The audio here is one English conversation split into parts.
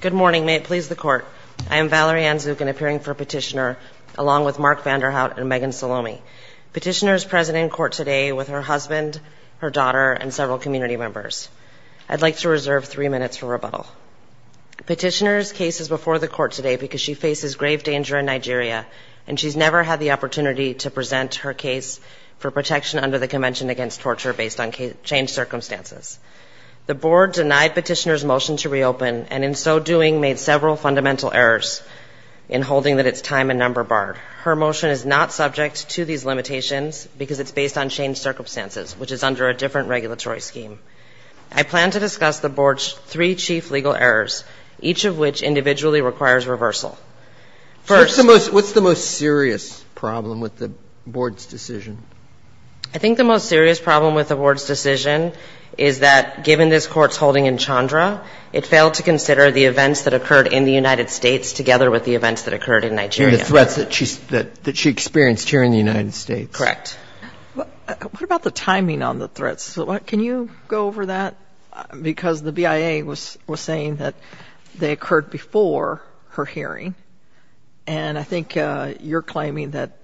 Good morning. May it please the Court. I am Valerie Anzucan, appearing for Petitioner, along with Mark Vanderhout and Megan Salomi. Petitioner is present in court today with her husband, her daughter, and several community members. I'd like to reserve three minutes for rebuttal. Petitioner's case is before the Court today because she faces grave danger in Nigeria, and she's never had the opportunity to present her case for protection under the petitioner's motion to reopen, and in so doing made several fundamental errors in holding that it's time and number barred. Her motion is not subject to these limitations because it's based on changed circumstances, which is under a different regulatory scheme. I plan to discuss the Board's three chief legal errors, each of which individually requires reversal. First What's the most serious problem with the Board's decision? I think the most serious problem with the Board's decision is that, given this Court's holding in Chandra, it failed to consider the events that occurred in the United States together with the events that occurred in Nigeria. The threats that she experienced here in the United States. Correct. What about the timing on the threats? Can you go over that? Because the BIA was saying that they occurred before her hearing, and I think you're claiming that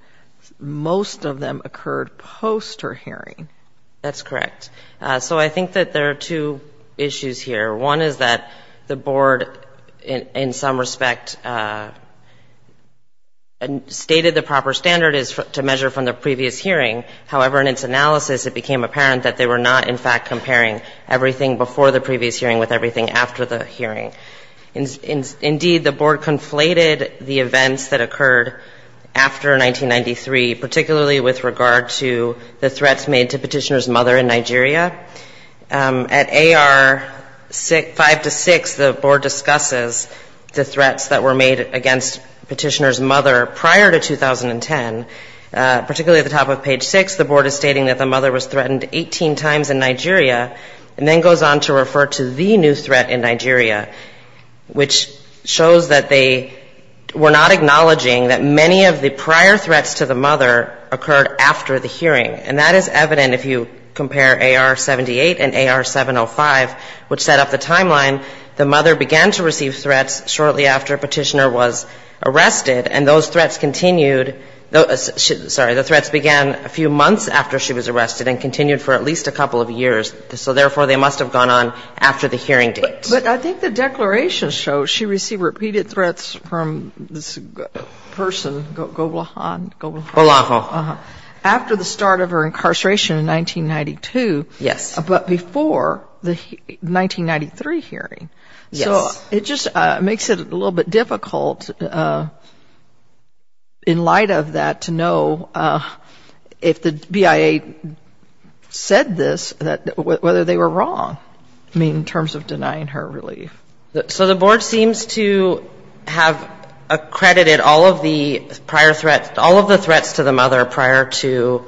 most of them occurred post her hearing. That's correct. So I think that there are two issues here. One is that the Board, in some respect, stated the proper standard is to measure from the previous hearing. However, in its analysis, it became apparent that they were not, in fact, comparing everything before the previous hearing with everything after the hearing. Indeed, the Board conflated the events that occurred after 1993, particularly with regard to the threats made to Petitioner's mother in Nigeria. At AR 5 to 6, the Board discusses the threats that were made against Petitioner's mother prior to 2010. Particularly at the top of page 6, the Board is stating that the mother was threatened 18 times in Nigeria and then goes on to refer to the new threat in Nigeria, which shows that they were not acknowledging that many of the prior threats to the mother occurred after the hearing. And that is evident if you compare AR 78 and AR 705, which set up the timeline. The mother began to receive threats shortly after Petitioner was arrested, and those threats continued. Sorry, the threats began a few months after she was arrested and continued for at least a couple of years. So therefore, they must have gone on after the hearing date. But I think the declaration shows she received repeated threats from this person, Goblehan. After the start of her incarceration in 1992, but before the 1993 hearing. So it just makes it a little bit difficult in light of that to know if the BIA said this, whether they were wrong, I mean, in terms of denying her relief. So the Board seems to have accredited all of the prior threats, all of the threats to the mother prior to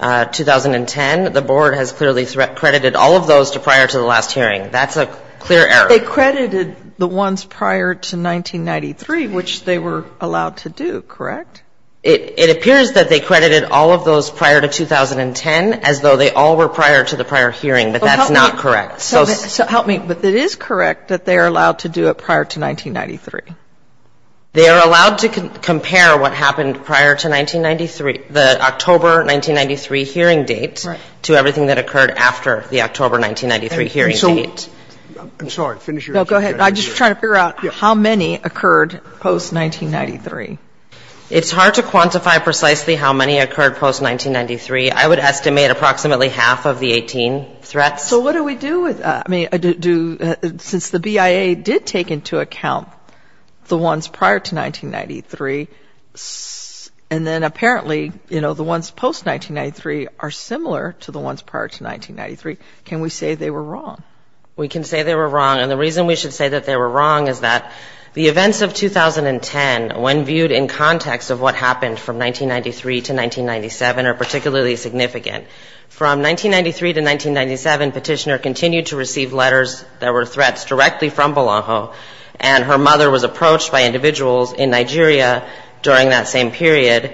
2010. The Board has clearly credited all of those to prior to the last hearing. That's a clear error. They credited the ones prior to 1993, which they were allowed to do, correct? It appears that they credited all of those prior to 2010, as though they all were prior to the prior hearing. But that's not correct. So help me. But it is correct that they are allowed to do it prior to 1993. They are allowed to compare what happened prior to 1993, the October 1993 hearing date, to everything that occurred after the October 1993 hearing date. I'm sorry. Finish your answer. No, go ahead. I'm just trying to figure out how many occurred post-1993. It's hard to quantify precisely how many occurred post-1993. I would estimate approximately half of the 18 threats. So what do we do with that? I mean, since the BIA did take into account the ones prior to 1993, and then apparently, you know, the ones post-1993 are similar to the ones prior to 1993, can we say they were wrong? We can say they were wrong. And the reason we should say that they were wrong is that the events of 2010, when viewed in context of what happened from 1993 to 1997, are particularly significant. From 1993 to 1997, Petitioner continued to receive letters that were threats directly from Bolaho, and her mother was approached by individuals in Nigeria during that same period.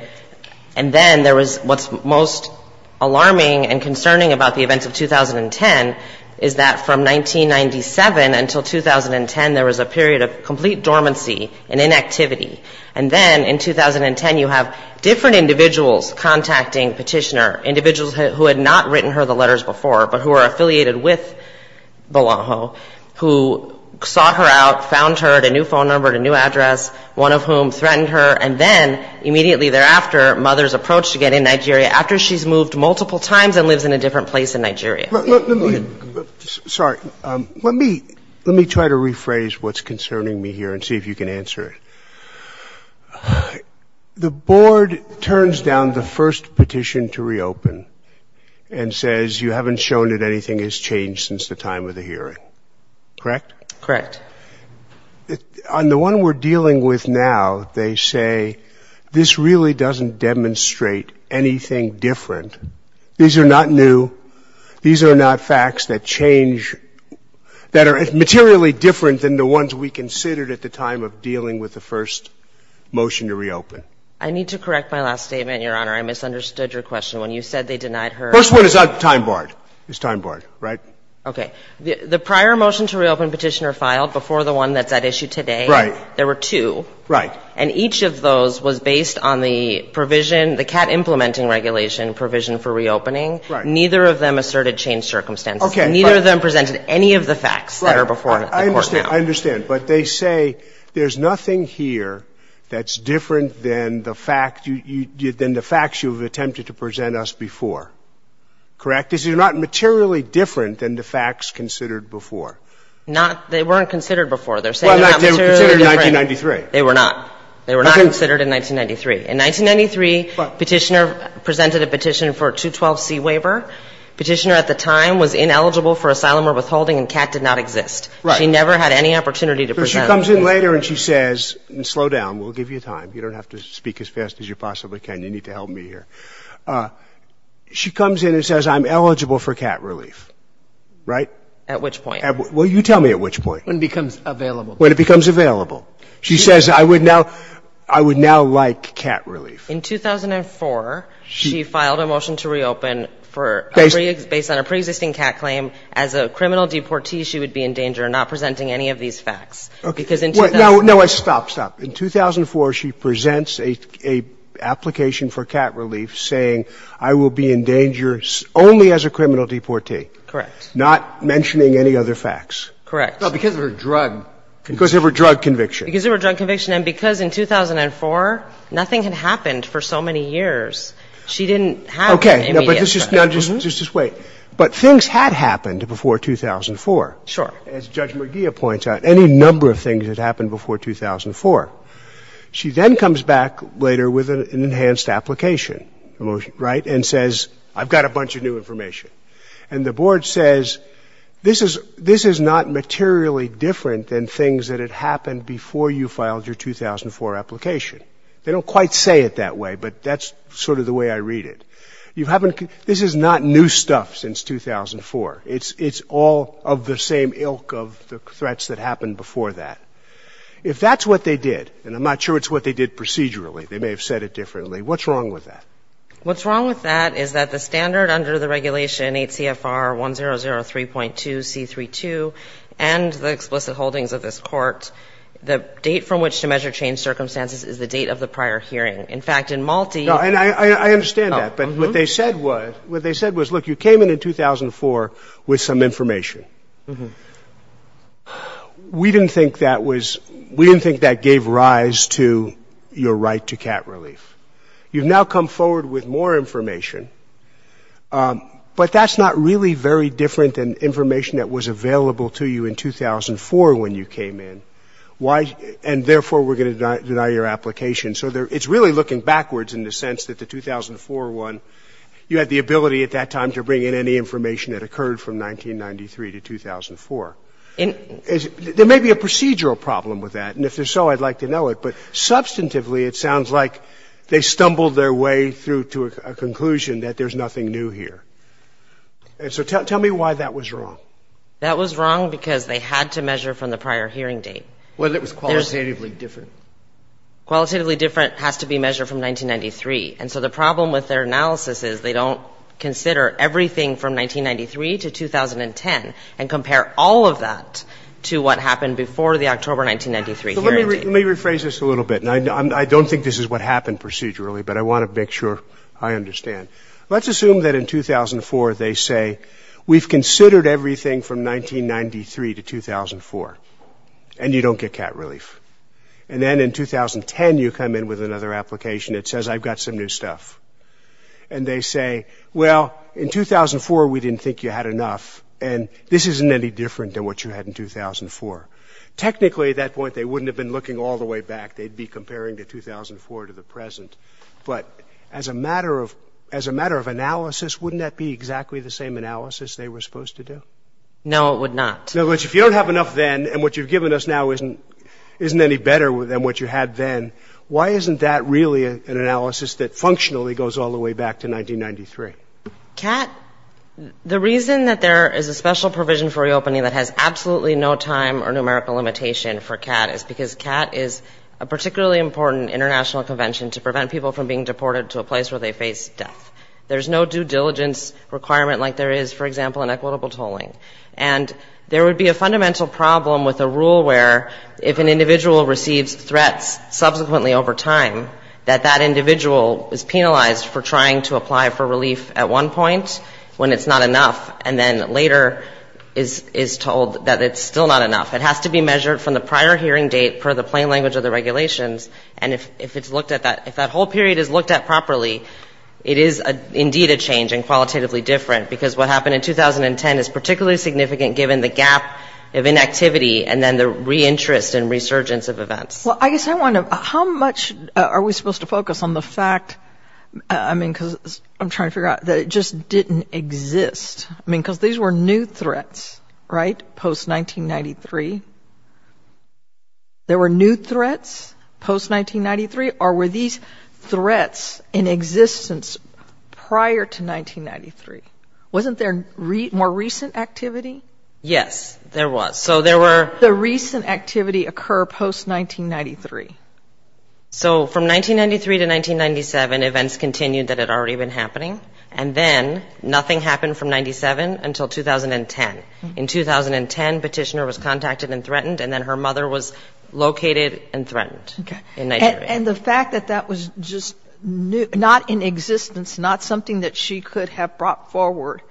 And then there was what's most alarming and concerning about the events of 2010 is that from 1997 until 2010, there was a period of complete dormancy and inactivity. And then in 2010, you have different individuals contacting Petitioner, individuals who had not written her the letters before, but who are affiliated with Bolaho, who sought her out, found her, had a new phone number, had a new address, one of whom threatened her. And then immediately thereafter, mothers approached again in Nigeria after she's moved multiple times and lives in a different place in Nigeria. Let me try to rephrase what's concerning me here and see if you can answer it. The board turns down the first petition to reopen and says you haven't shown that anything has changed since the time of the hearing. Correct? Correct. On the one we're dealing with now, they say this really doesn't demonstrate anything different. These are not new. These are not facts that change, that are materially different than the ones we considered at the time of dealing with the first motion to reopen. I need to correct my last statement, Your Honor. I misunderstood your question. When you said they denied her ---- First one is out of time barred. It's time barred, right? Okay. The prior motion to reopen Petitioner filed before the one that's at issue today. Right. There were two. Right. And each of those was based on the provision, the CAT implementing regulation provision for reopening. Right. Neither of them asserted changed circumstances. Okay. And neither of them presented any of the facts that are before the court now. Right. I understand. I understand. But they say there's nothing here that's different than the fact you ---- than the facts you have attempted to present us before. Correct? These are not materially different than the facts considered before. Not ---- they weren't considered before. They're saying they're not materially different. Well, they were considered in 1993. They were not. They were not considered in 1993. In 1993, Petitioner presented a petition for a 212c waiver. Petitioner at the time was ineligible for asylum or withholding, and CAT did not exist. Right. She never had any opportunity to present. But she comes in later and she says ---- and slow down, we'll give you time. You don't have to speak as fast as you possibly can. You need to help me here. She comes in and says I'm eligible for CAT relief, right? At which point? Well, you tell me at which point. When it becomes available. When it becomes available. She says I would now ---- I would now like CAT relief. In 2004, she filed a motion to reopen for a pre ---- based on a preexisting CAT claim. As a criminal deportee, she would be in danger of not presenting any of these facts. Okay. Because in 2004 ---- No, no. Stop, stop. In 2004, she presents a application for CAT relief saying I will be in danger only as a criminal deportee. Correct. Not mentioning any other facts. Correct. No, because of her drug ---- Because of her drug conviction. Because of her drug conviction. And because in 2004, nothing had happened for so many years. She didn't have immediate ---- Okay. No, but this is ---- Now, just wait. But things had happened before 2004. Sure. As Judge McGeeh points out, any number of things had happened before 2004. She then comes back later with an enhanced application, right? And says I've got a bunch of new information. And the board says this is not materially different than things that had happened before you filed your 2004 application. They don't quite say it that way, but that's sort of the way I read it. You haven't ---- This is not new stuff since 2004. It's all of the same ilk of the threats that happened before that. If that's what they did, and I'm not sure it's what they did procedurally, they may have said it differently, what's wrong with that? under the regulation 8 CFR 1003.2C32 and the explicit holdings of this court, the date from which to measure change circumstances is the date of the prior hearing. In fact, in Malte ---- No, and I understand that. But what they said was, look, you came in in 2004 with some information. We didn't think that was ---- We didn't think that gave rise to your right to cat relief. You've now come forward with more information, but that's not really very different than information that was available to you in 2004 when you came in. And therefore, we're going to deny your application. So it's really looking backwards in the sense that the 2004 one, you had the ability at that time to bring in any information that occurred from 1993 to 2004. There may be a procedural problem with that, and if there's so, I'd like to know it. But substantively, it sounds like they stumbled their way through to a conclusion that there's nothing new here. So tell me why that was wrong. That was wrong because they had to measure from the prior hearing date. Well, it was qualitatively different. Qualitatively different has to be measured from 1993. And so the problem with their analysis is they don't consider everything from 1993 to 2010 and compare all of that to what happened before the October 1993 hearing date. So let me rephrase this a little bit, and I don't think this is what happened procedurally, but I want to make sure I understand. Let's assume that in 2004, they say, we've considered everything from 1993 to 2004, and you don't get cat relief. And then in 2010, you come in with another application that says, I've got some new stuff. And they say, well, in 2004, we didn't think you had enough, and this isn't any different than what you had in 2004. Technically, at that point, they wouldn't have been looking all the way back. They'd be comparing the 2004 to the present. But as a matter of analysis, wouldn't that be exactly the same analysis they were supposed to do? No, it would not. No, but if you don't have enough then, and what you've given us now isn't any better than what you had then, why isn't that really an analysis that functionally goes all the way back to 1993? Kat, the reason that there is a special provision for reopening that has absolutely no time or numerical limitation for Kat is because Kat is a particularly important international convention to prevent people from being deported to a place where they face death. There's no due diligence requirement like there is, for example, in equitable tolling. And there would be a fundamental problem with a rule where if an individual receives threats subsequently over time, that that individual is penalized for trying to apply for relief at one point when it's not enough, and then later is told that it's still not enough. It has to be measured from the prior hearing date per the plain language of the regulations. And if it's looked at that, if that whole period is looked at properly, it is indeed a change and qualitatively different, because what happened in 2010 is particularly significant given the gap of inactivity and then the reinterest and resurgence of events. Well, I guess I want to, how much are we supposed to focus on the fact, I mean, because I'm trying to figure out, that it just didn't exist. I mean, because these were new threats, right, post-1993. There were new threats post-1993, or were these threats in existence prior to 1993? Wasn't there more recent activity? Yes, there was. So there were the recent activity occur post-1993. So from 1993 to 1997, events continued that had already been happening, and then nothing happened from 1997 until 2010. In 2010, Petitioner was contacted and threatened, and then her mother was located and threatened in Nigeria. Okay. And the fact that that was just not in existence, not something that she could have brought forward,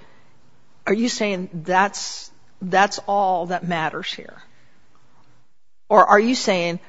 are you saying that's all that matters here? Or are you saying,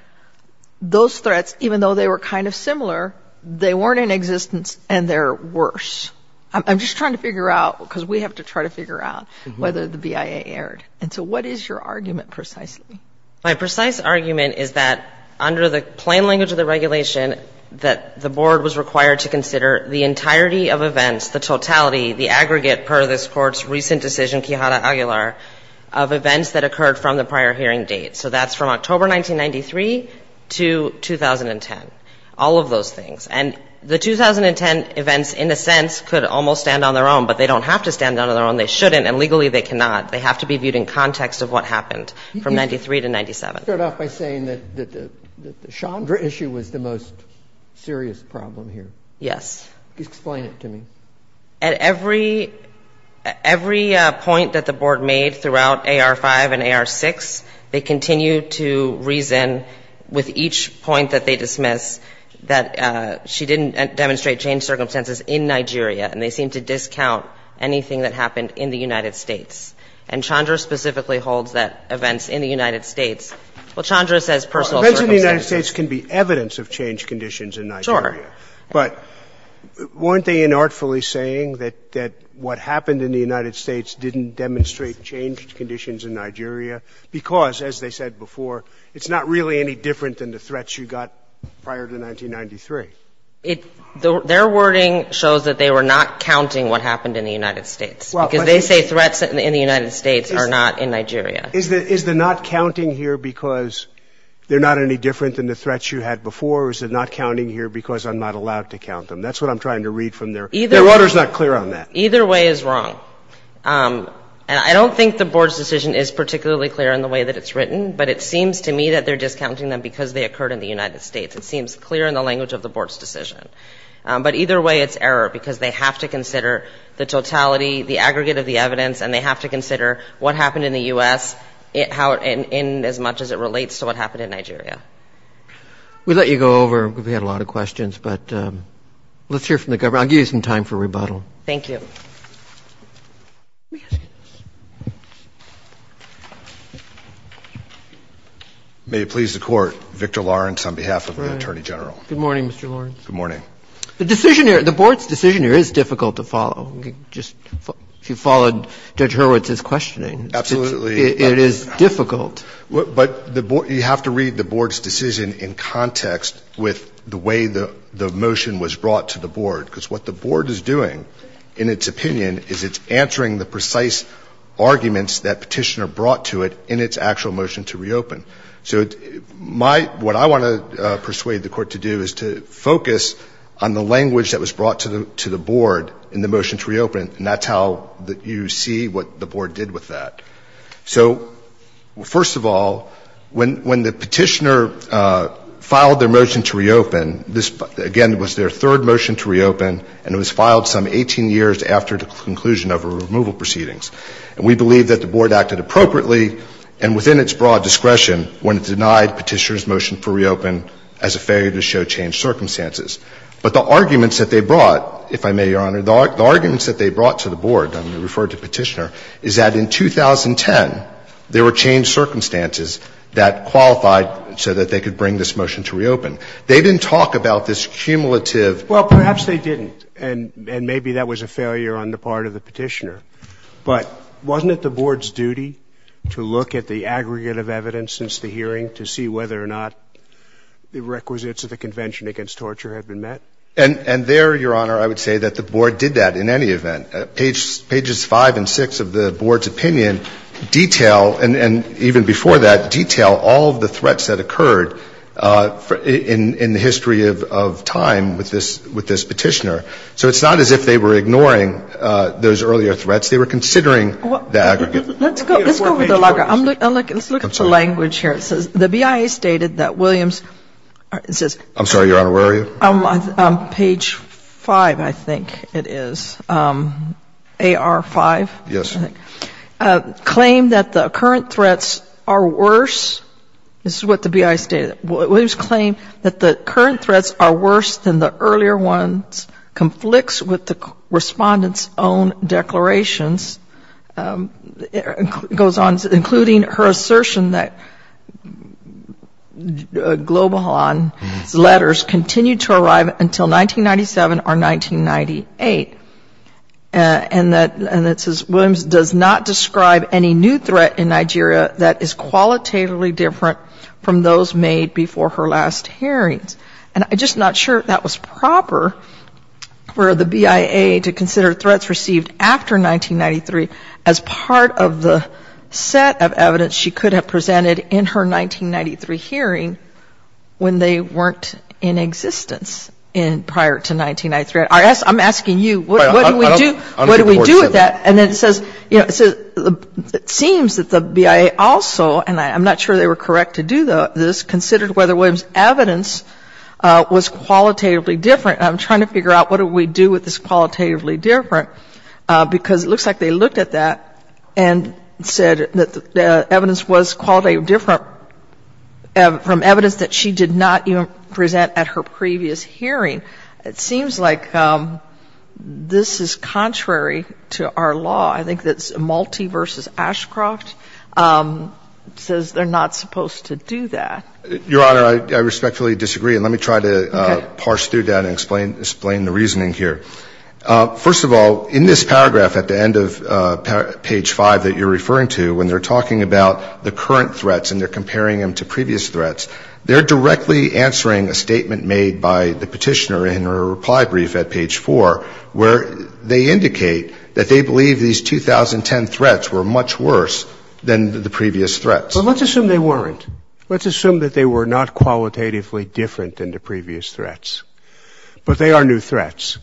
those threats, even though they were kind of similar, they weren't in existence and they're worse? I'm just trying to figure out, because we have to try to figure out whether the BIA erred. And so what is your argument precisely? My precise argument is that under the plain language of the regulation, that the Board was required to consider the entirety of events, the totality, the aggregate per this Court's recent decision, Quijada Aguilar, of events that occurred from the prior hearing date. So that's from October 1993 to 2010, all of those things. And the 2010 events, in a sense, could almost stand on their own, but they don't have to stand on their own. They shouldn't, and legally they cannot. They have to be viewed in context of what happened from 93 to 97. You start off by saying that the Chandra issue was the most serious problem here. Yes. Explain it to me. At every point that the Board made throughout AR-5 and AR-6, they continue to reason with each point that they dismiss that she didn't demonstrate changed circumstances in Nigeria, and they seem to discount anything that happened in the United States. And Chandra specifically holds that events in the United States – well, Chandra says personal circumstances. Events in the United States can be evidence of changed conditions in Nigeria. Sure. But weren't they inartfully saying that what happened in the United States didn't demonstrate changed conditions in Nigeria because, as they said before, it's not really any different than the threats you got prior to 1993? Their wording shows that they were not counting what happened in the United States because they say threats in the United States are not in Nigeria. Is the not counting here because they're not any different than the threats you had before, or is the not counting here because I'm not allowed to count them? That's what I'm trying to read from their – their order is not clear on that. Either way is wrong. And I don't think the Board's decision is particularly clear in the way that it's written, but it seems to me that they're discounting them because they occurred in the United States. It seems clear in the language of the Board's decision. But either way, it's error because they have to consider the totality, the aggregate of the evidence, and they have to consider what happened in the U.S. in as much as it relates to what happened in Nigeria. We'll let you go over. We've had a lot of questions. But let's hear from the Governor. I'll give you some time for rebuttal. Thank you. May it please the Court, Victor Lawrence on behalf of the Attorney General. Good morning, Mr. Lawrence. Good morning. The decision here – the Board's decision here is difficult to follow. Just – if you followed Judge Hurwitz's questioning. Absolutely. It is difficult. But you have to read the Board's decision in context with the way the motion was brought to the Board. Because what the Board is doing, in its opinion, is it's answering the precise arguments that Petitioner brought to it in its actual motion to reopen. So what I want to persuade the Court to do is to focus on the language that was brought to the Board in the motion to reopen, and that's how you see what the Board did with that. So, first of all, when the Petitioner filed their motion to reopen, this, again, was their third motion to reopen, and it was filed some 18 years after the conclusion of the removal proceedings. And we believe that the Board acted appropriately and within its broad discretion when it denied Petitioner's motion to reopen as a failure to show changed circumstances. But the arguments that they brought, if I may, Your Honor, the arguments that they brought to the Board when they referred to Petitioner is that in 2010, there were changed circumstances that qualified so that they could bring this motion to reopen. They didn't talk about this cumulative. Well, perhaps they didn't, and maybe that was a failure on the part of the Petitioner. But wasn't it the Board's duty to look at the aggregate of evidence since the hearing to see whether or not the requisites of the Convention against Torture had been And there, Your Honor, I would say that the Board did that in any event. Pages 5 and 6 of the Board's opinion detail, and even before that, detail all of the threats that occurred in the history of time with this Petitioner. So it's not as if they were ignoring those earlier threats. They were considering the aggregate. Let's go over the logger. Let's look at the language here. It says, the BIA stated that Williams says – I'm sorry, Your Honor, where are you? Page 5, I think it is. AR5? Yes. Claimed that the current threats are worse. This is what the BIA stated. Williams claimed that the current threats are worse than the earlier ones. Conflicts with the Respondent's own declarations. It goes on, including her assertion that Globohan's letters continued to arrive until 1997 or 1998. And it says, Williams does not describe any new threat in Nigeria that is qualitatively different from those made before her last hearings. And I'm just not sure if that was proper for the BIA to consider threats received after 1993 as part of the set of evidence she could have presented in her 1993 hearing when they weren't in existence prior to 1993. I'm asking you, what do we do? What do we do with that? And then it says, you know, it seems that the BIA also, and I'm not sure they were correct to do this, considered whether Williams' evidence was qualitatively different. I'm trying to figure out what do we do with this qualitatively different, because it looks like they looked at that and said that the evidence was qualitatively different from evidence that she did not even present at her previous hearing. It seems like this is contrary to our law. I think that Malte v. Ashcroft says they're not supposed to do that. Your Honor, I respectfully disagree. And let me try to parse through that and explain the reasoning here. First of all, in this paragraph at the end of page 5 that you're referring to, when they're talking about the current threats and they're comparing them to previous threats, they're directly answering a statement made by the Petitioner in her reply brief at page 4 where they indicate that they believe these 2010 threats were much worse than the previous threats. Well, let's assume they weren't. Let's assume that they were not qualitatively different than the previous threats, but they are new threats.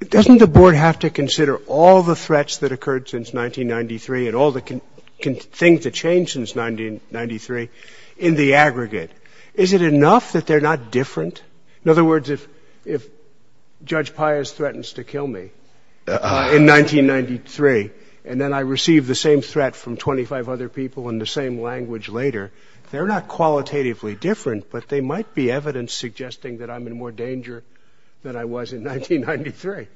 Doesn't the Board have to consider all the threats that occurred since 1993 and all the things that changed since 1993 in the aggregate? Is it enough that they're not different? In other words, if Judge Pius threatens to kill me in 1993 and then I receive the same threat of other people in the same language later, they're not qualitatively different, but they might be evidence suggesting that I'm in more danger than I was in 1993.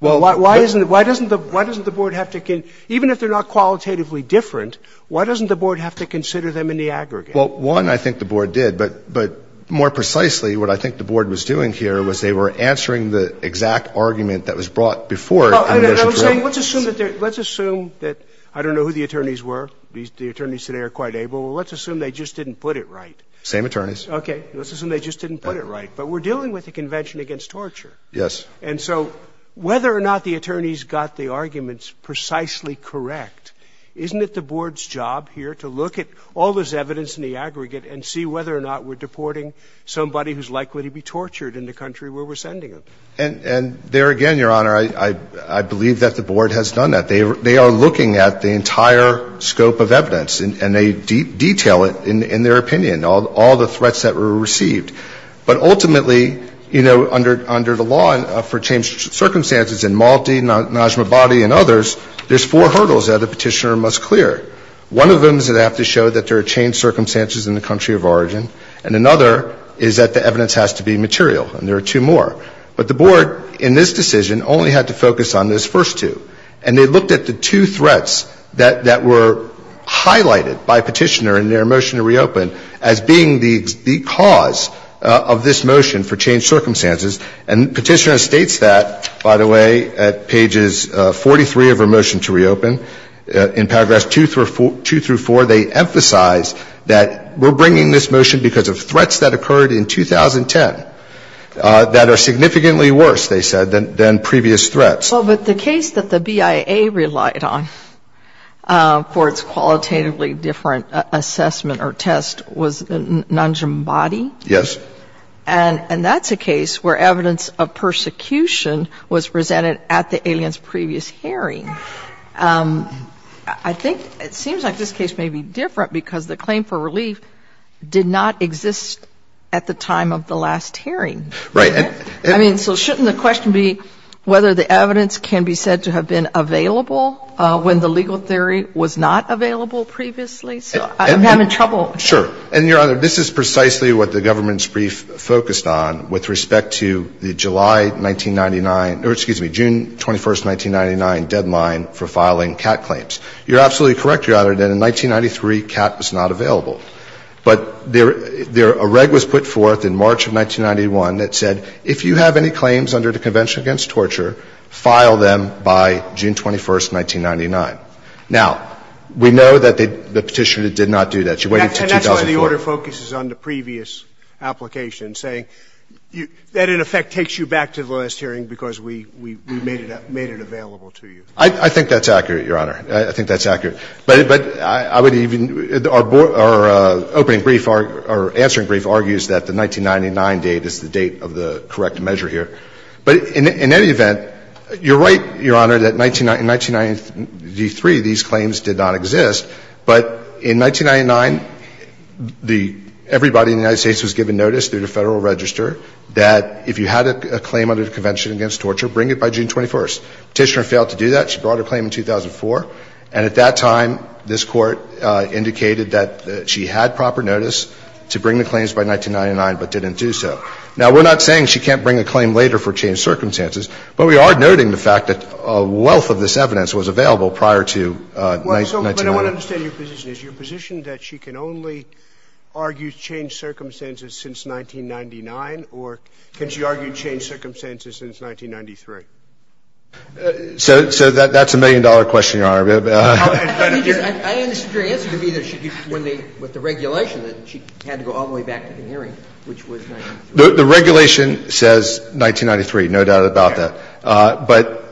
Why doesn't the Board have to consider them? Even if they're not qualitatively different, why doesn't the Board have to consider them in the aggregate? Well, one, I think the Board did. But more precisely, what I think the Board was doing here was they were answering the exact argument that was brought before. Let's assume that they're – let's assume that – I don't know who the attorneys were. The attorneys today are quite able. Well, let's assume they just didn't put it right. Same attorneys. Okay. Let's assume they just didn't put it right. But we're dealing with a convention against torture. Yes. And so whether or not the attorneys got the arguments precisely correct, isn't it the Board's job here to look at all this evidence in the aggregate and see whether or not we're deporting somebody who's likely to be tortured in the country where we're sending them? And there again, Your Honor, I believe that the Board has done that. They are looking at the entire scope of evidence and they detail it in their opinion, all the threats that were received. But ultimately, you know, under the law for changed circumstances in Malti, Najmabadi and others, there's four hurdles that a petitioner must clear. One of them is that they have to show that there are changed circumstances in the country of origin. And another is that the evidence has to be material. And there are two more. But the Board in this decision only had to focus on those first two. And they looked at the two threats that were highlighted by Petitioner in their motion to reopen as being the cause of this motion for changed circumstances. And Petitioner states that, by the way, at pages 43 of her motion to reopen. In paragraphs 2 through 4, they emphasize that we're bringing this motion because of threats that occurred in 2010 that are significantly worse, they said, than previous threats. Well, but the case that the BIA relied on for its qualitatively different assessment or test was Najmabadi. Yes. And that's a case where evidence of persecution was presented at the alien's previous hearing. I think it seems like this case may be different because the claim for relief did not exist at the time of the last hearing. Right. I mean, so shouldn't the question be whether the evidence can be said to have been available when the legal theory was not available previously? So I'm having trouble. Sure. And, Your Honor, this is precisely what the government's brief focused on with respect to the July 1999 or, excuse me, June 21st, 1999 deadline for filing CAT claims. You're absolutely correct, Your Honor, that in 1993, CAT was not available. But a reg was put forth in March of 1991 that said, if you have any claims under the Convention Against Torture, file them by June 21st, 1999. Now, we know that the Petitioner did not do that. She waited until 2004. And that's why the order focuses on the previous application, saying that, in effect, takes you back to the last hearing because we made it available to you. I think that's accurate. But I would even – our opening brief, our answering brief argues that the 1999 date is the date of the correct measure here. But in any event, you're right, Your Honor, that in 1993, these claims did not exist. But in 1999, the – everybody in the United States was given notice through the Federal Register that if you had a claim under the Convention Against Torture, bring it by June 21st. Petitioner failed to do that. She brought her claim in 2004. And at that time, this Court indicated that she had proper notice to bring the claims by 1999, but didn't do so. Now, we're not saying she can't bring a claim later for changed circumstances, but we are noting the fact that a wealth of this evidence was available prior to 1999. So, but I want to understand your position. Is your position that she can only argue changed circumstances since 1999, or can she argue changed circumstances since 1993? So that's a million-dollar question, Your Honor. Let me just – I understood your answer to be that she – when they – with the regulation that she had to go all the way back to the hearing, which was 1993. The regulation says 1993, no doubt about that. Okay. But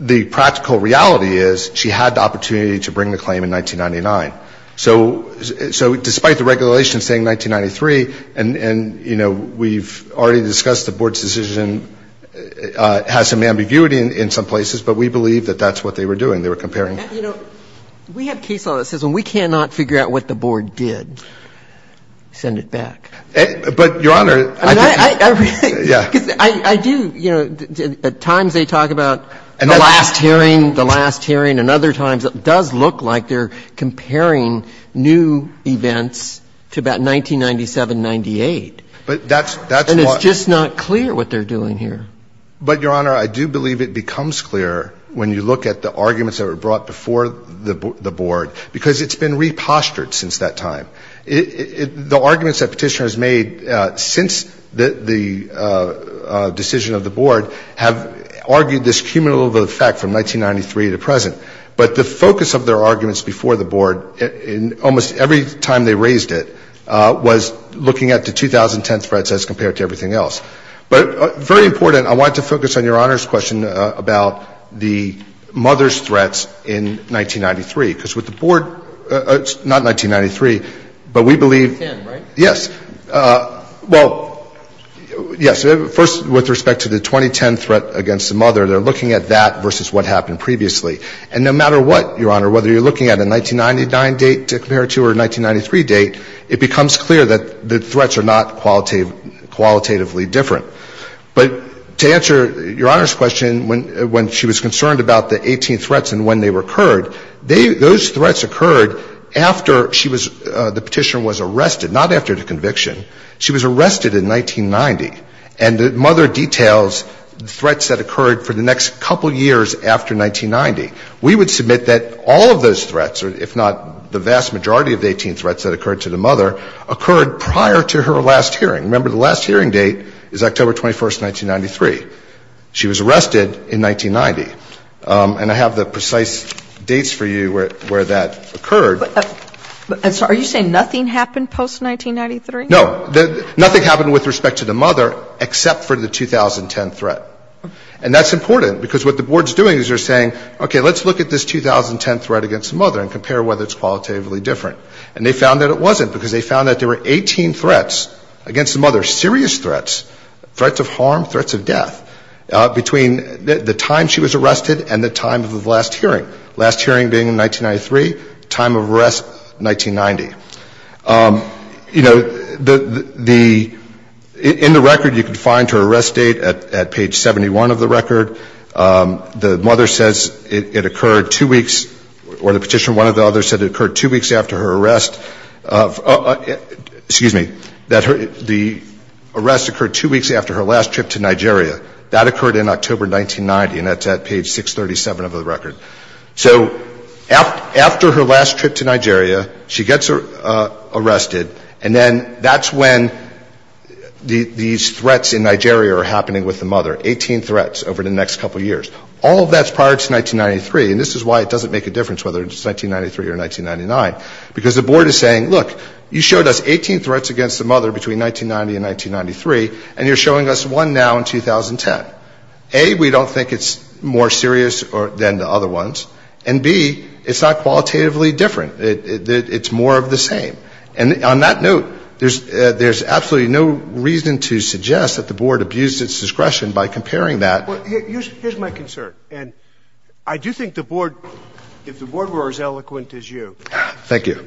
the practical reality is she had the opportunity to bring the claim in 1999. So despite the regulation saying 1993, and, you know, we've already discussed the Board's decision, has some ambiguity in some places, but we believe that that's what they were doing. They were comparing. You know, we have case law that says when we cannot figure out what the Board did, send it back. But, Your Honor, I think – Yeah. Because I do, you know, at times they talk about the last hearing, the last hearing, and other times it does look like they're comparing new events to about 1997-98. But that's – And it's just not clear what they're doing here. But, Your Honor, I do believe it becomes clear when you look at the arguments that were brought before the Board, because it's been repostered since that time. The arguments that Petitioners made since the decision of the Board have argued this cumulative effect from 1993 to present. But the focus of their arguments before the Board in almost every time they raised looking at the 2010 threats as compared to everything else. But very important, I want to focus on Your Honor's question about the mother's threats in 1993. Because with the Board – not 1993, but we believe – 2010, right? Yes. Well, yes. First, with respect to the 2010 threat against the mother, they're looking at that versus what happened previously. And no matter what, Your Honor, whether you're looking at a 1999 date to compare to her 1993 date, it becomes clear that the threats are not qualitatively different. But to answer Your Honor's question when she was concerned about the 18 threats and when they occurred, those threats occurred after she was – the Petitioner was arrested, not after the conviction. She was arrested in 1990. And the mother details threats that occurred for the next couple years after 1990. We would submit that all of those threats, if not the vast majority of the 18 threats that occurred to the mother, occurred prior to her last hearing. Remember, the last hearing date is October 21st, 1993. She was arrested in 1990. And I have the precise dates for you where that occurred. Are you saying nothing happened post-1993? No. Nothing happened with respect to the mother except for the 2010 threat. And that's important, because what the Board's doing is they're saying, okay, let's look at this 2010 threat against the mother and compare whether it's qualitatively different. And they found that it wasn't, because they found that there were 18 threats against the mother, serious threats, threats of harm, threats of death, between the time she was arrested and the time of the last hearing, last hearing being 1993, time of arrest 1990. You know, in the record, you can find her arrest date at page 71 of the record. The mother says it occurred two weeks, or the petitioner, one or the other, said it occurred two weeks after her arrest of, excuse me, that the arrest occurred two weeks after her last trip to Nigeria. That occurred in October 1990, and that's at page 637 of the record. So after her last trip to Nigeria, she gets arrested, and then that's when these threats in Nigeria are happening with the mother, 18 threats over the next couple of years. All of that's prior to 1993, and this is why it doesn't make a difference whether it's 1993 or 1999, because the Board is saying, look, you showed us 18 threats against the mother between 1990 and 1993, and you're showing us one now in 2010. A, we don't think it's more serious than the other ones, and B, it's not qualitatively different. It's more of the same. And on that note, there's absolutely no reason to suggest that the Board abused its discretion by comparing that. Well, here's my concern, and I do think the Board, if the Board were as eloquent as you... Thank you.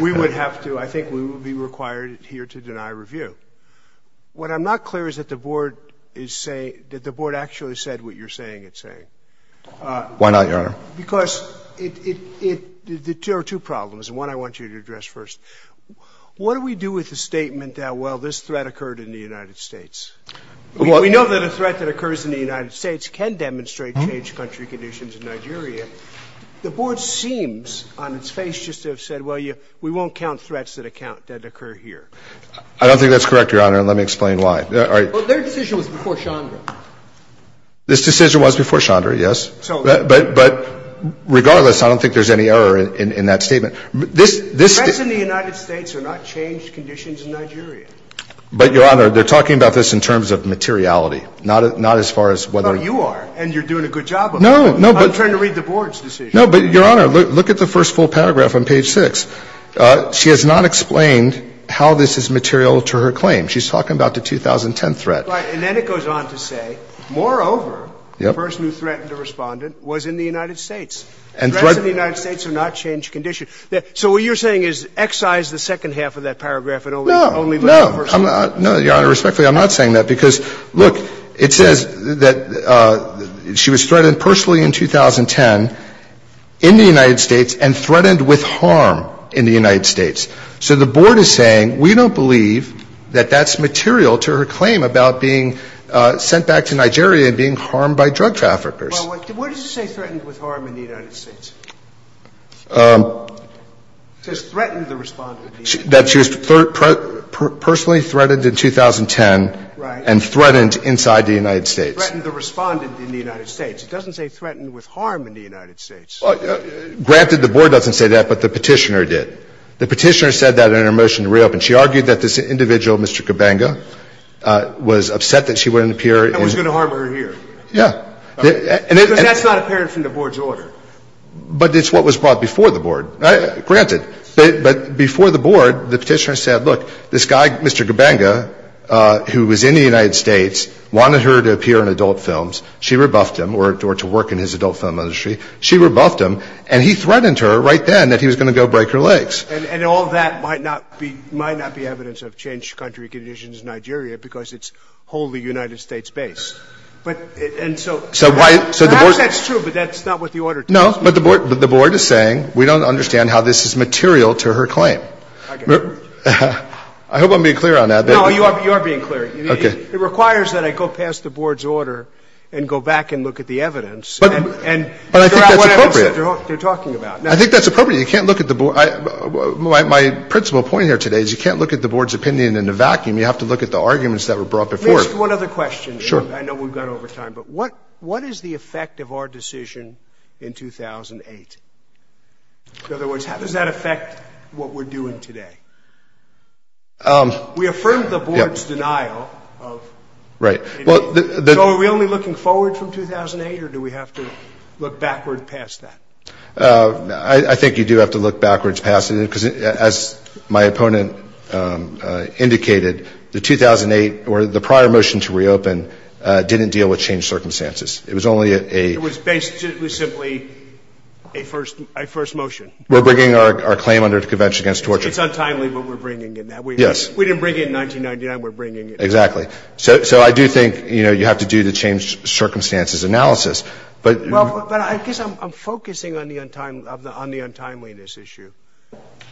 ...we would have to, I think we would be required here to deny review. What I'm not clear is that the Board is saying, that the Board actually said what you're saying it's saying. Why not, Your Honor? Because there are two problems, and one I want you to address first. What do we do with the statement that, well, this threat occurred in the United States? We know that a threat that occurs in the United States can demonstrate changed country conditions in Nigeria. The Board seems, on its face, just to have said, well, we won't count threats that occur here. I don't think that's correct, Your Honor, and let me explain why. All right. Well, their decision was before Chandra. This decision was before Chandra, yes. So... But regardless, I don't think there's any error in that statement. This... Threats in the United States are not changed conditions in Nigeria. But, Your Honor, they're talking about this in terms of materiality, not as far as whether... But you are, and you're doing a good job of it. No, no, but... I'm trying to read the Board's decision. No, but, Your Honor, look at the first full paragraph on page 6. She has not explained how this is material to her claim. She's talking about the 2010 threat. Right. And then it goes on to say, moreover, the person who threatened the Respondent was in the United States. And threats... Threats in the United States are not changed conditions. So what you're saying is excise the second half of that paragraph and only look at the first half. No, no. No, Your Honor, respectfully, I'm not saying that because, look, it says that she was threatened with harm in the United States. So the Board is saying we don't believe that that's material to her claim about being sent back to Nigeria and being harmed by drug traffickers. Well, what does it say threatened with harm in the United States? It says threatened the Respondent in the United States. That she was personally threatened in 2010... Right. ...and threatened inside the United States. Threatened the Respondent in the United States. It doesn't say threatened with harm in the United States. Well, granted, the Board doesn't say that, but the Petitioner did. The Petitioner said that in her motion to reopen. She argued that this individual, Mr. Gabanga, was upset that she wouldn't appear in... That was going to harm her here. Yeah. Because that's not apparent from the Board's order. But it's what was brought before the Board. Granted. But before the Board, the Petitioner said, look, this guy, Mr. Gabanga, who was in the United States, wanted her to appear in adult films. She rebuffed him or to work in his adult film industry. She rebuffed him. And he threatened her right then that he was going to go break her legs. And all that might not be evidence of changed country conditions in Nigeria because it's wholly United States-based. And so perhaps that's true, but that's not what the order tells me. No, but the Board is saying we don't understand how this is material to her claim. I hope I'm being clear on that. No, you are being clear. Okay. It requires that I go past the Board's order and go back and look at the evidence. But I think that's appropriate. And figure out what evidence they're talking about. I think that's appropriate. You can't look at the Board. My principal point here today is you can't look at the Board's opinion in a vacuum. You have to look at the arguments that were brought before it. Just one other question. Sure. I know we've gone over time, but what is the effect of our decision in 2008? In other words, how does that affect what we're doing today? We affirmed the Board's denial of... Right. So are we only looking forward from 2008, or do we have to look backward past that? I think you do have to look backwards past it. Because as my opponent indicated, the 2008 or the prior motion to reopen didn't deal with changed circumstances. It was only a... It was simply a first motion. We're bringing our claim under the Convention Against Torture. It's untimely, but we're bringing it now. We didn't bring it in 1999. We're bringing it now. Exactly. So I do think you have to do the changed circumstances analysis. But I guess I'm focusing on the untimeliness issue.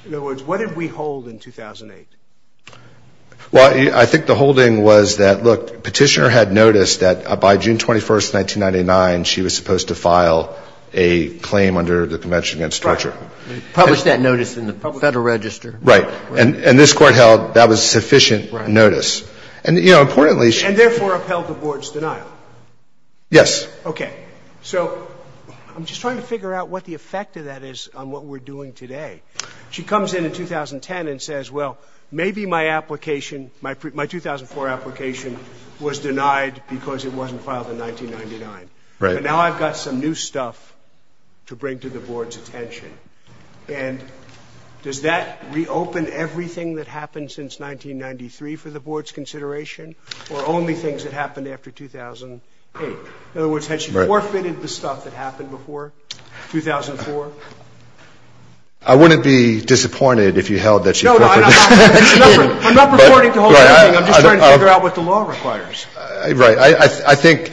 In other words, what did we hold in 2008? Well, I think the holding was that, look, Petitioner had noticed that by June 21st, 1999, she was supposed to file a claim under the Convention Against Torture. Right. Publish that notice in the Federal Register. Right. And this Court held that was sufficient notice. Right. And, you know, importantly... And therefore upheld the Board's denial. Yes. Okay. So I'm just trying to figure out what the effect of that is on what we're doing today. She comes in in 2010 and says, well, maybe my application, my 2004 application was denied because it wasn't filed in 1999. Right. But now I've got some new stuff to bring to the Board's attention. And does that reopen everything that happened since 1993 for the Board's consideration or only things that happened after 2008? In other words, had she forfeited the stuff that happened before 2004? I wouldn't be disappointed if you held that she forfeited. No, no. I'm not purporting to hold anything. I'm just trying to figure out what the law requires. Right. I think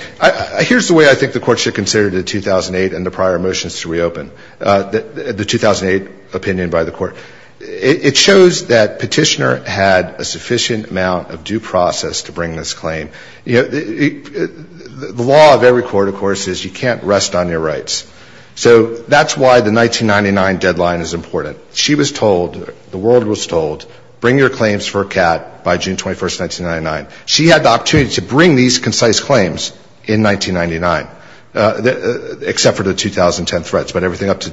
here's the way I think the Court should consider the 2008 and the prior motions to reopen, the 2008 opinion by the Court. It shows that Petitioner had a sufficient amount of due process to bring this claim. You know, the law of every court, of course, is you can't rest on your rights. So that's why the 1999 deadline is important. She was told, the world was told, bring your claims for a cat by June 21st, 1999. She had the opportunity to bring these concise claims in 1999, except for the 2010 threats, but everything up to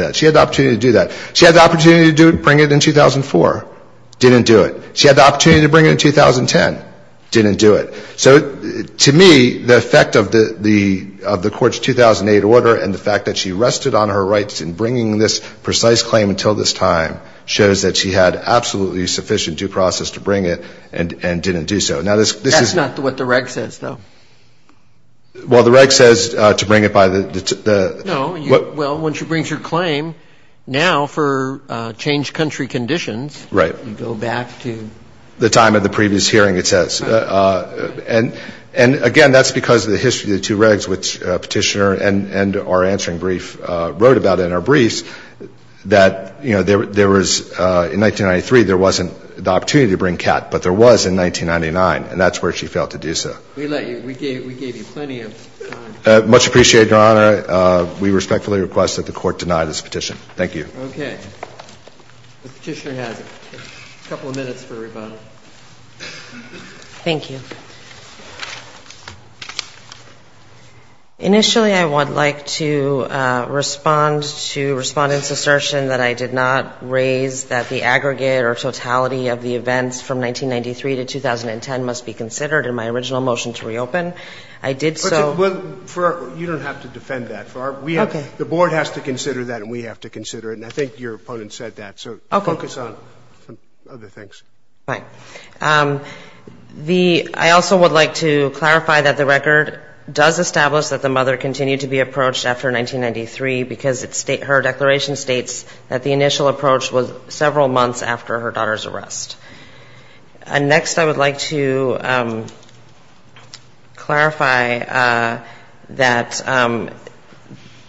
that. She had the opportunity to do that. She had the opportunity to bring it in 2004. Didn't do it. She had the opportunity to bring it in 2010. Didn't do it. So to me, the effect of the Court's 2008 order and the fact that she rested on her rights in bringing this precise claim until this time shows that she had absolutely sufficient due process to bring it and didn't do so. That's not what the reg says, though. Well, the reg says to bring it by the... No. Well, once you bring your claim, now for changed country conditions... Right. ...you go back to... The time of the previous hearing, it says. And again, that's because of the history of the two regs which Petitioner and our answering brief wrote about in our briefs, that, you know, there was, in 1993, there wasn't the opportunity to bring Kat, but there was in 1999, and that's where she failed to do so. We let you, we gave you plenty of time. Much appreciated, Your Honor. We respectfully request that the Court deny this petition. Thank you. Okay. Petitioner has a couple of minutes for rebuttal. Thank you. Initially, I would like to respond to Respondent's assertion that I did not raise that the aggregate or totality of the events from 1993 to 2010 must be considered in my original motion to reopen. I did so... Well, you don't have to defend that. Okay. The Board has to consider that and we have to consider it, and I think your opponent said that. Okay. So focus on some other things. Fine. The... I also would like to clarify that the record does establish that the mother continued to be approached after 1993 because her declaration states that the initial approach was several months after her daughter's arrest. Next, I would like to clarify that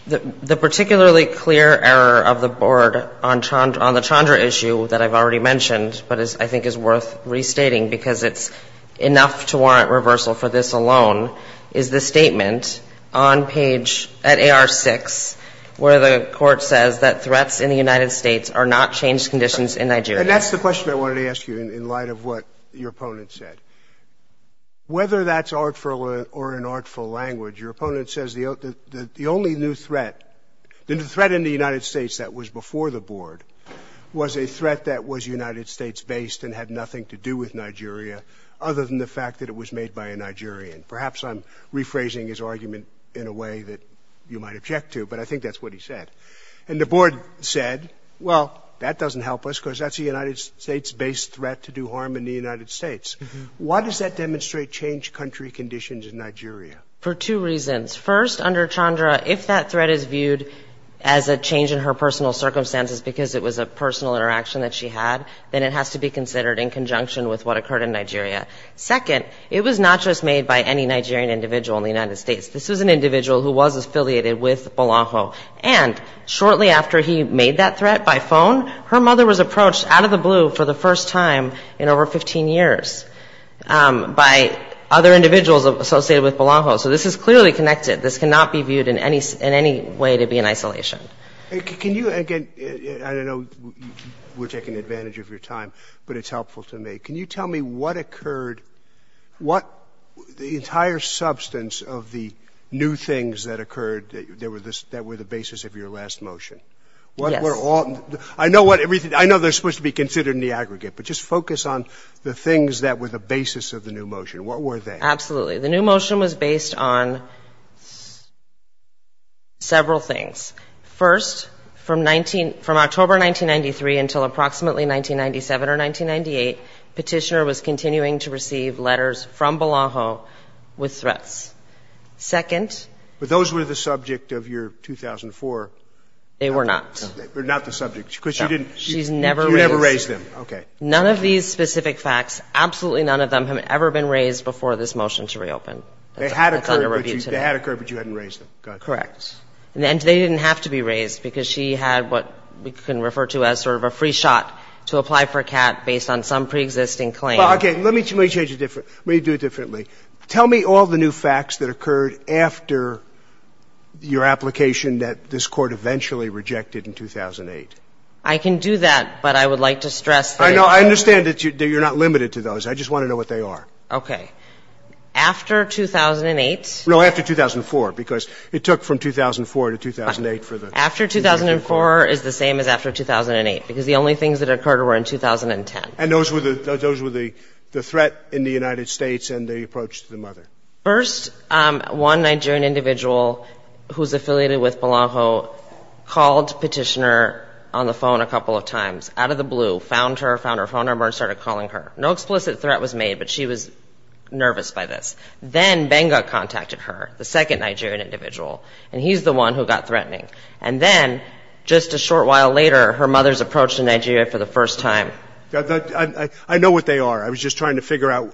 the particularly clear error of the Board on the Chandra issue that I've already mentioned, but I think is worth restating because it's enough to warrant reversal for this alone, is the statement on page at AR6 where the Court says that threats in the United States are not changed conditions in Nigeria. And that's the question I wanted to ask you in light of what your opponent said. Whether that's artful or an artful language, your opponent says the only new threat in the United States that was before the Board was a threat that was United States-based and had nothing to do with Nigeria other than the fact that it was made by a Nigerian. Perhaps I'm rephrasing his argument in a way that you might object to, but I think that's what he said. And the Board said, well, that doesn't help us because that's a United States-based threat to do harm in the United States. Why does that demonstrate changed country conditions in Nigeria? For two reasons. First, under Chandra, if that threat is viewed as a change in her personal circumstances because it was a personal interaction that she had, then it has to be considered in conjunction with what occurred in Nigeria. Second, it was not just made by any Nigerian individual in the United States. This was an individual who was affiliated with Bolaho. And shortly after he made that threat by phone, her mother was approached out of the blue for the first time in over 15 years by other individuals associated with Bolaho. So this is clearly connected. This cannot be viewed in any way to be in isolation. Can you, again, I know we're taking advantage of your time, but it's helpful to me. Can you tell me what occurred, the entire substance of the new things that occurred that were the basis of your last motion? Yes. I know they're supposed to be considered in the aggregate, but just focus on the things that were the basis of the new motion. What were they? Absolutely. The new motion was based on several things. First, from October 1993 until approximately 1997 or 1998, Petitioner was continuing to receive letters from Bolaho with threats. Second. But those were the subject of your 2004. They were not. They were not the subject because you didn't. She's never raised them. You never raised them. Okay. None of these specific facts, absolutely none of them, have ever been raised before this motion to reopen. They had occurred, but you hadn't raised them. Correct. And they didn't have to be raised because she had what we can refer to as sort of a free shot to apply for a cat based on some preexisting claim. Okay. Let me change it. Let me do it differently. Tell me all the new facts that occurred after your application that this Court eventually rejected in 2008. I can do that, but I would like to stress that it's not. I understand that you're not limited to those. I just want to know what they are. Okay. After 2008. No, after 2004 because it took from 2004 to 2008 for the. After 2004 is the same as after 2008 because the only things that occurred were in 2010. And those were the threat in the United States and the approach to the mother. First, one Nigerian individual who's affiliated with Bolaho called Petitioner on the phone a couple of times out of the blue, found her, found her phone number and started calling her. No explicit threat was made, but she was nervous by this. Then Benga contacted her, the second Nigerian individual. And he's the one who got threatening. And then just a short while later, her mother's approach to Nigeria for the first time. I know what they are. I was just trying to figure out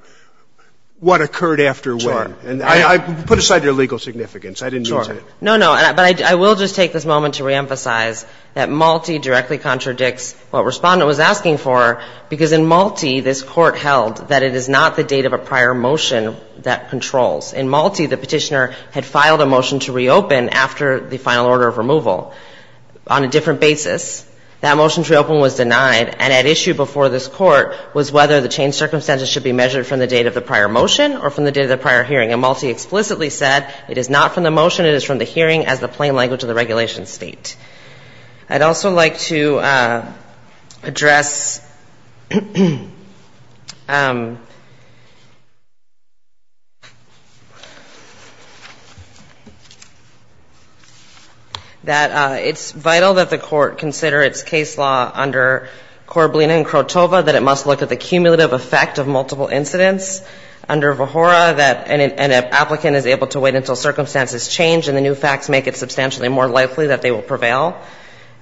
what occurred after when. Sure. Put aside your legal significance. I didn't mean to. No, no. But I will just take this moment to reemphasize that Malti directly contradicts what Respondent was asking for because in Malti this court held that it is not the date of a prior motion that controls. In Malti, the Petitioner had filed a motion to reopen after the final order of removal on a different basis. That motion to reopen was denied. And at issue before this court was whether the changed circumstances should be measured from the date of the prior motion or from the date of the prior hearing. And Malti explicitly said it is not from the motion. It is from the hearing as the plain language of the regulation state. I'd also like to address that it's vital that the court consider its case law under Korbelina and Krotova, that it must look at the cumulative effect of multiple incidents. Under Vohora, that an applicant is able to wait until circumstances change and the new facts make it substantially more likely that they will prevail.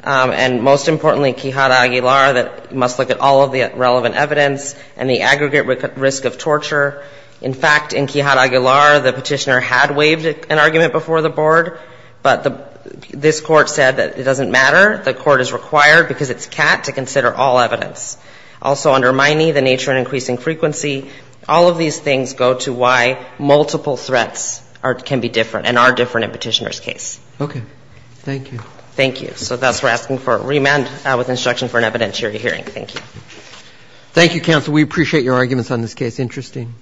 And most importantly, Quijada Aguilar, that it must look at all of the relevant evidence and the aggregate risk of torture. In fact, in Quijada Aguilar, the Petitioner had waived an argument before the board, but this court said that it doesn't matter. The court is required because it's cat to consider all evidence. Also, under Miney, the nature and increasing frequency, all of these things go to why multiple threats can be different and are different in Petitioner's case. Okay. Thank you. Thank you. So thus, we're asking for a remand with instruction for an evidentiary hearing. Thank you. Thank you, counsel. We appreciate your arguments on this case. Interesting.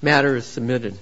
The matter is submitted.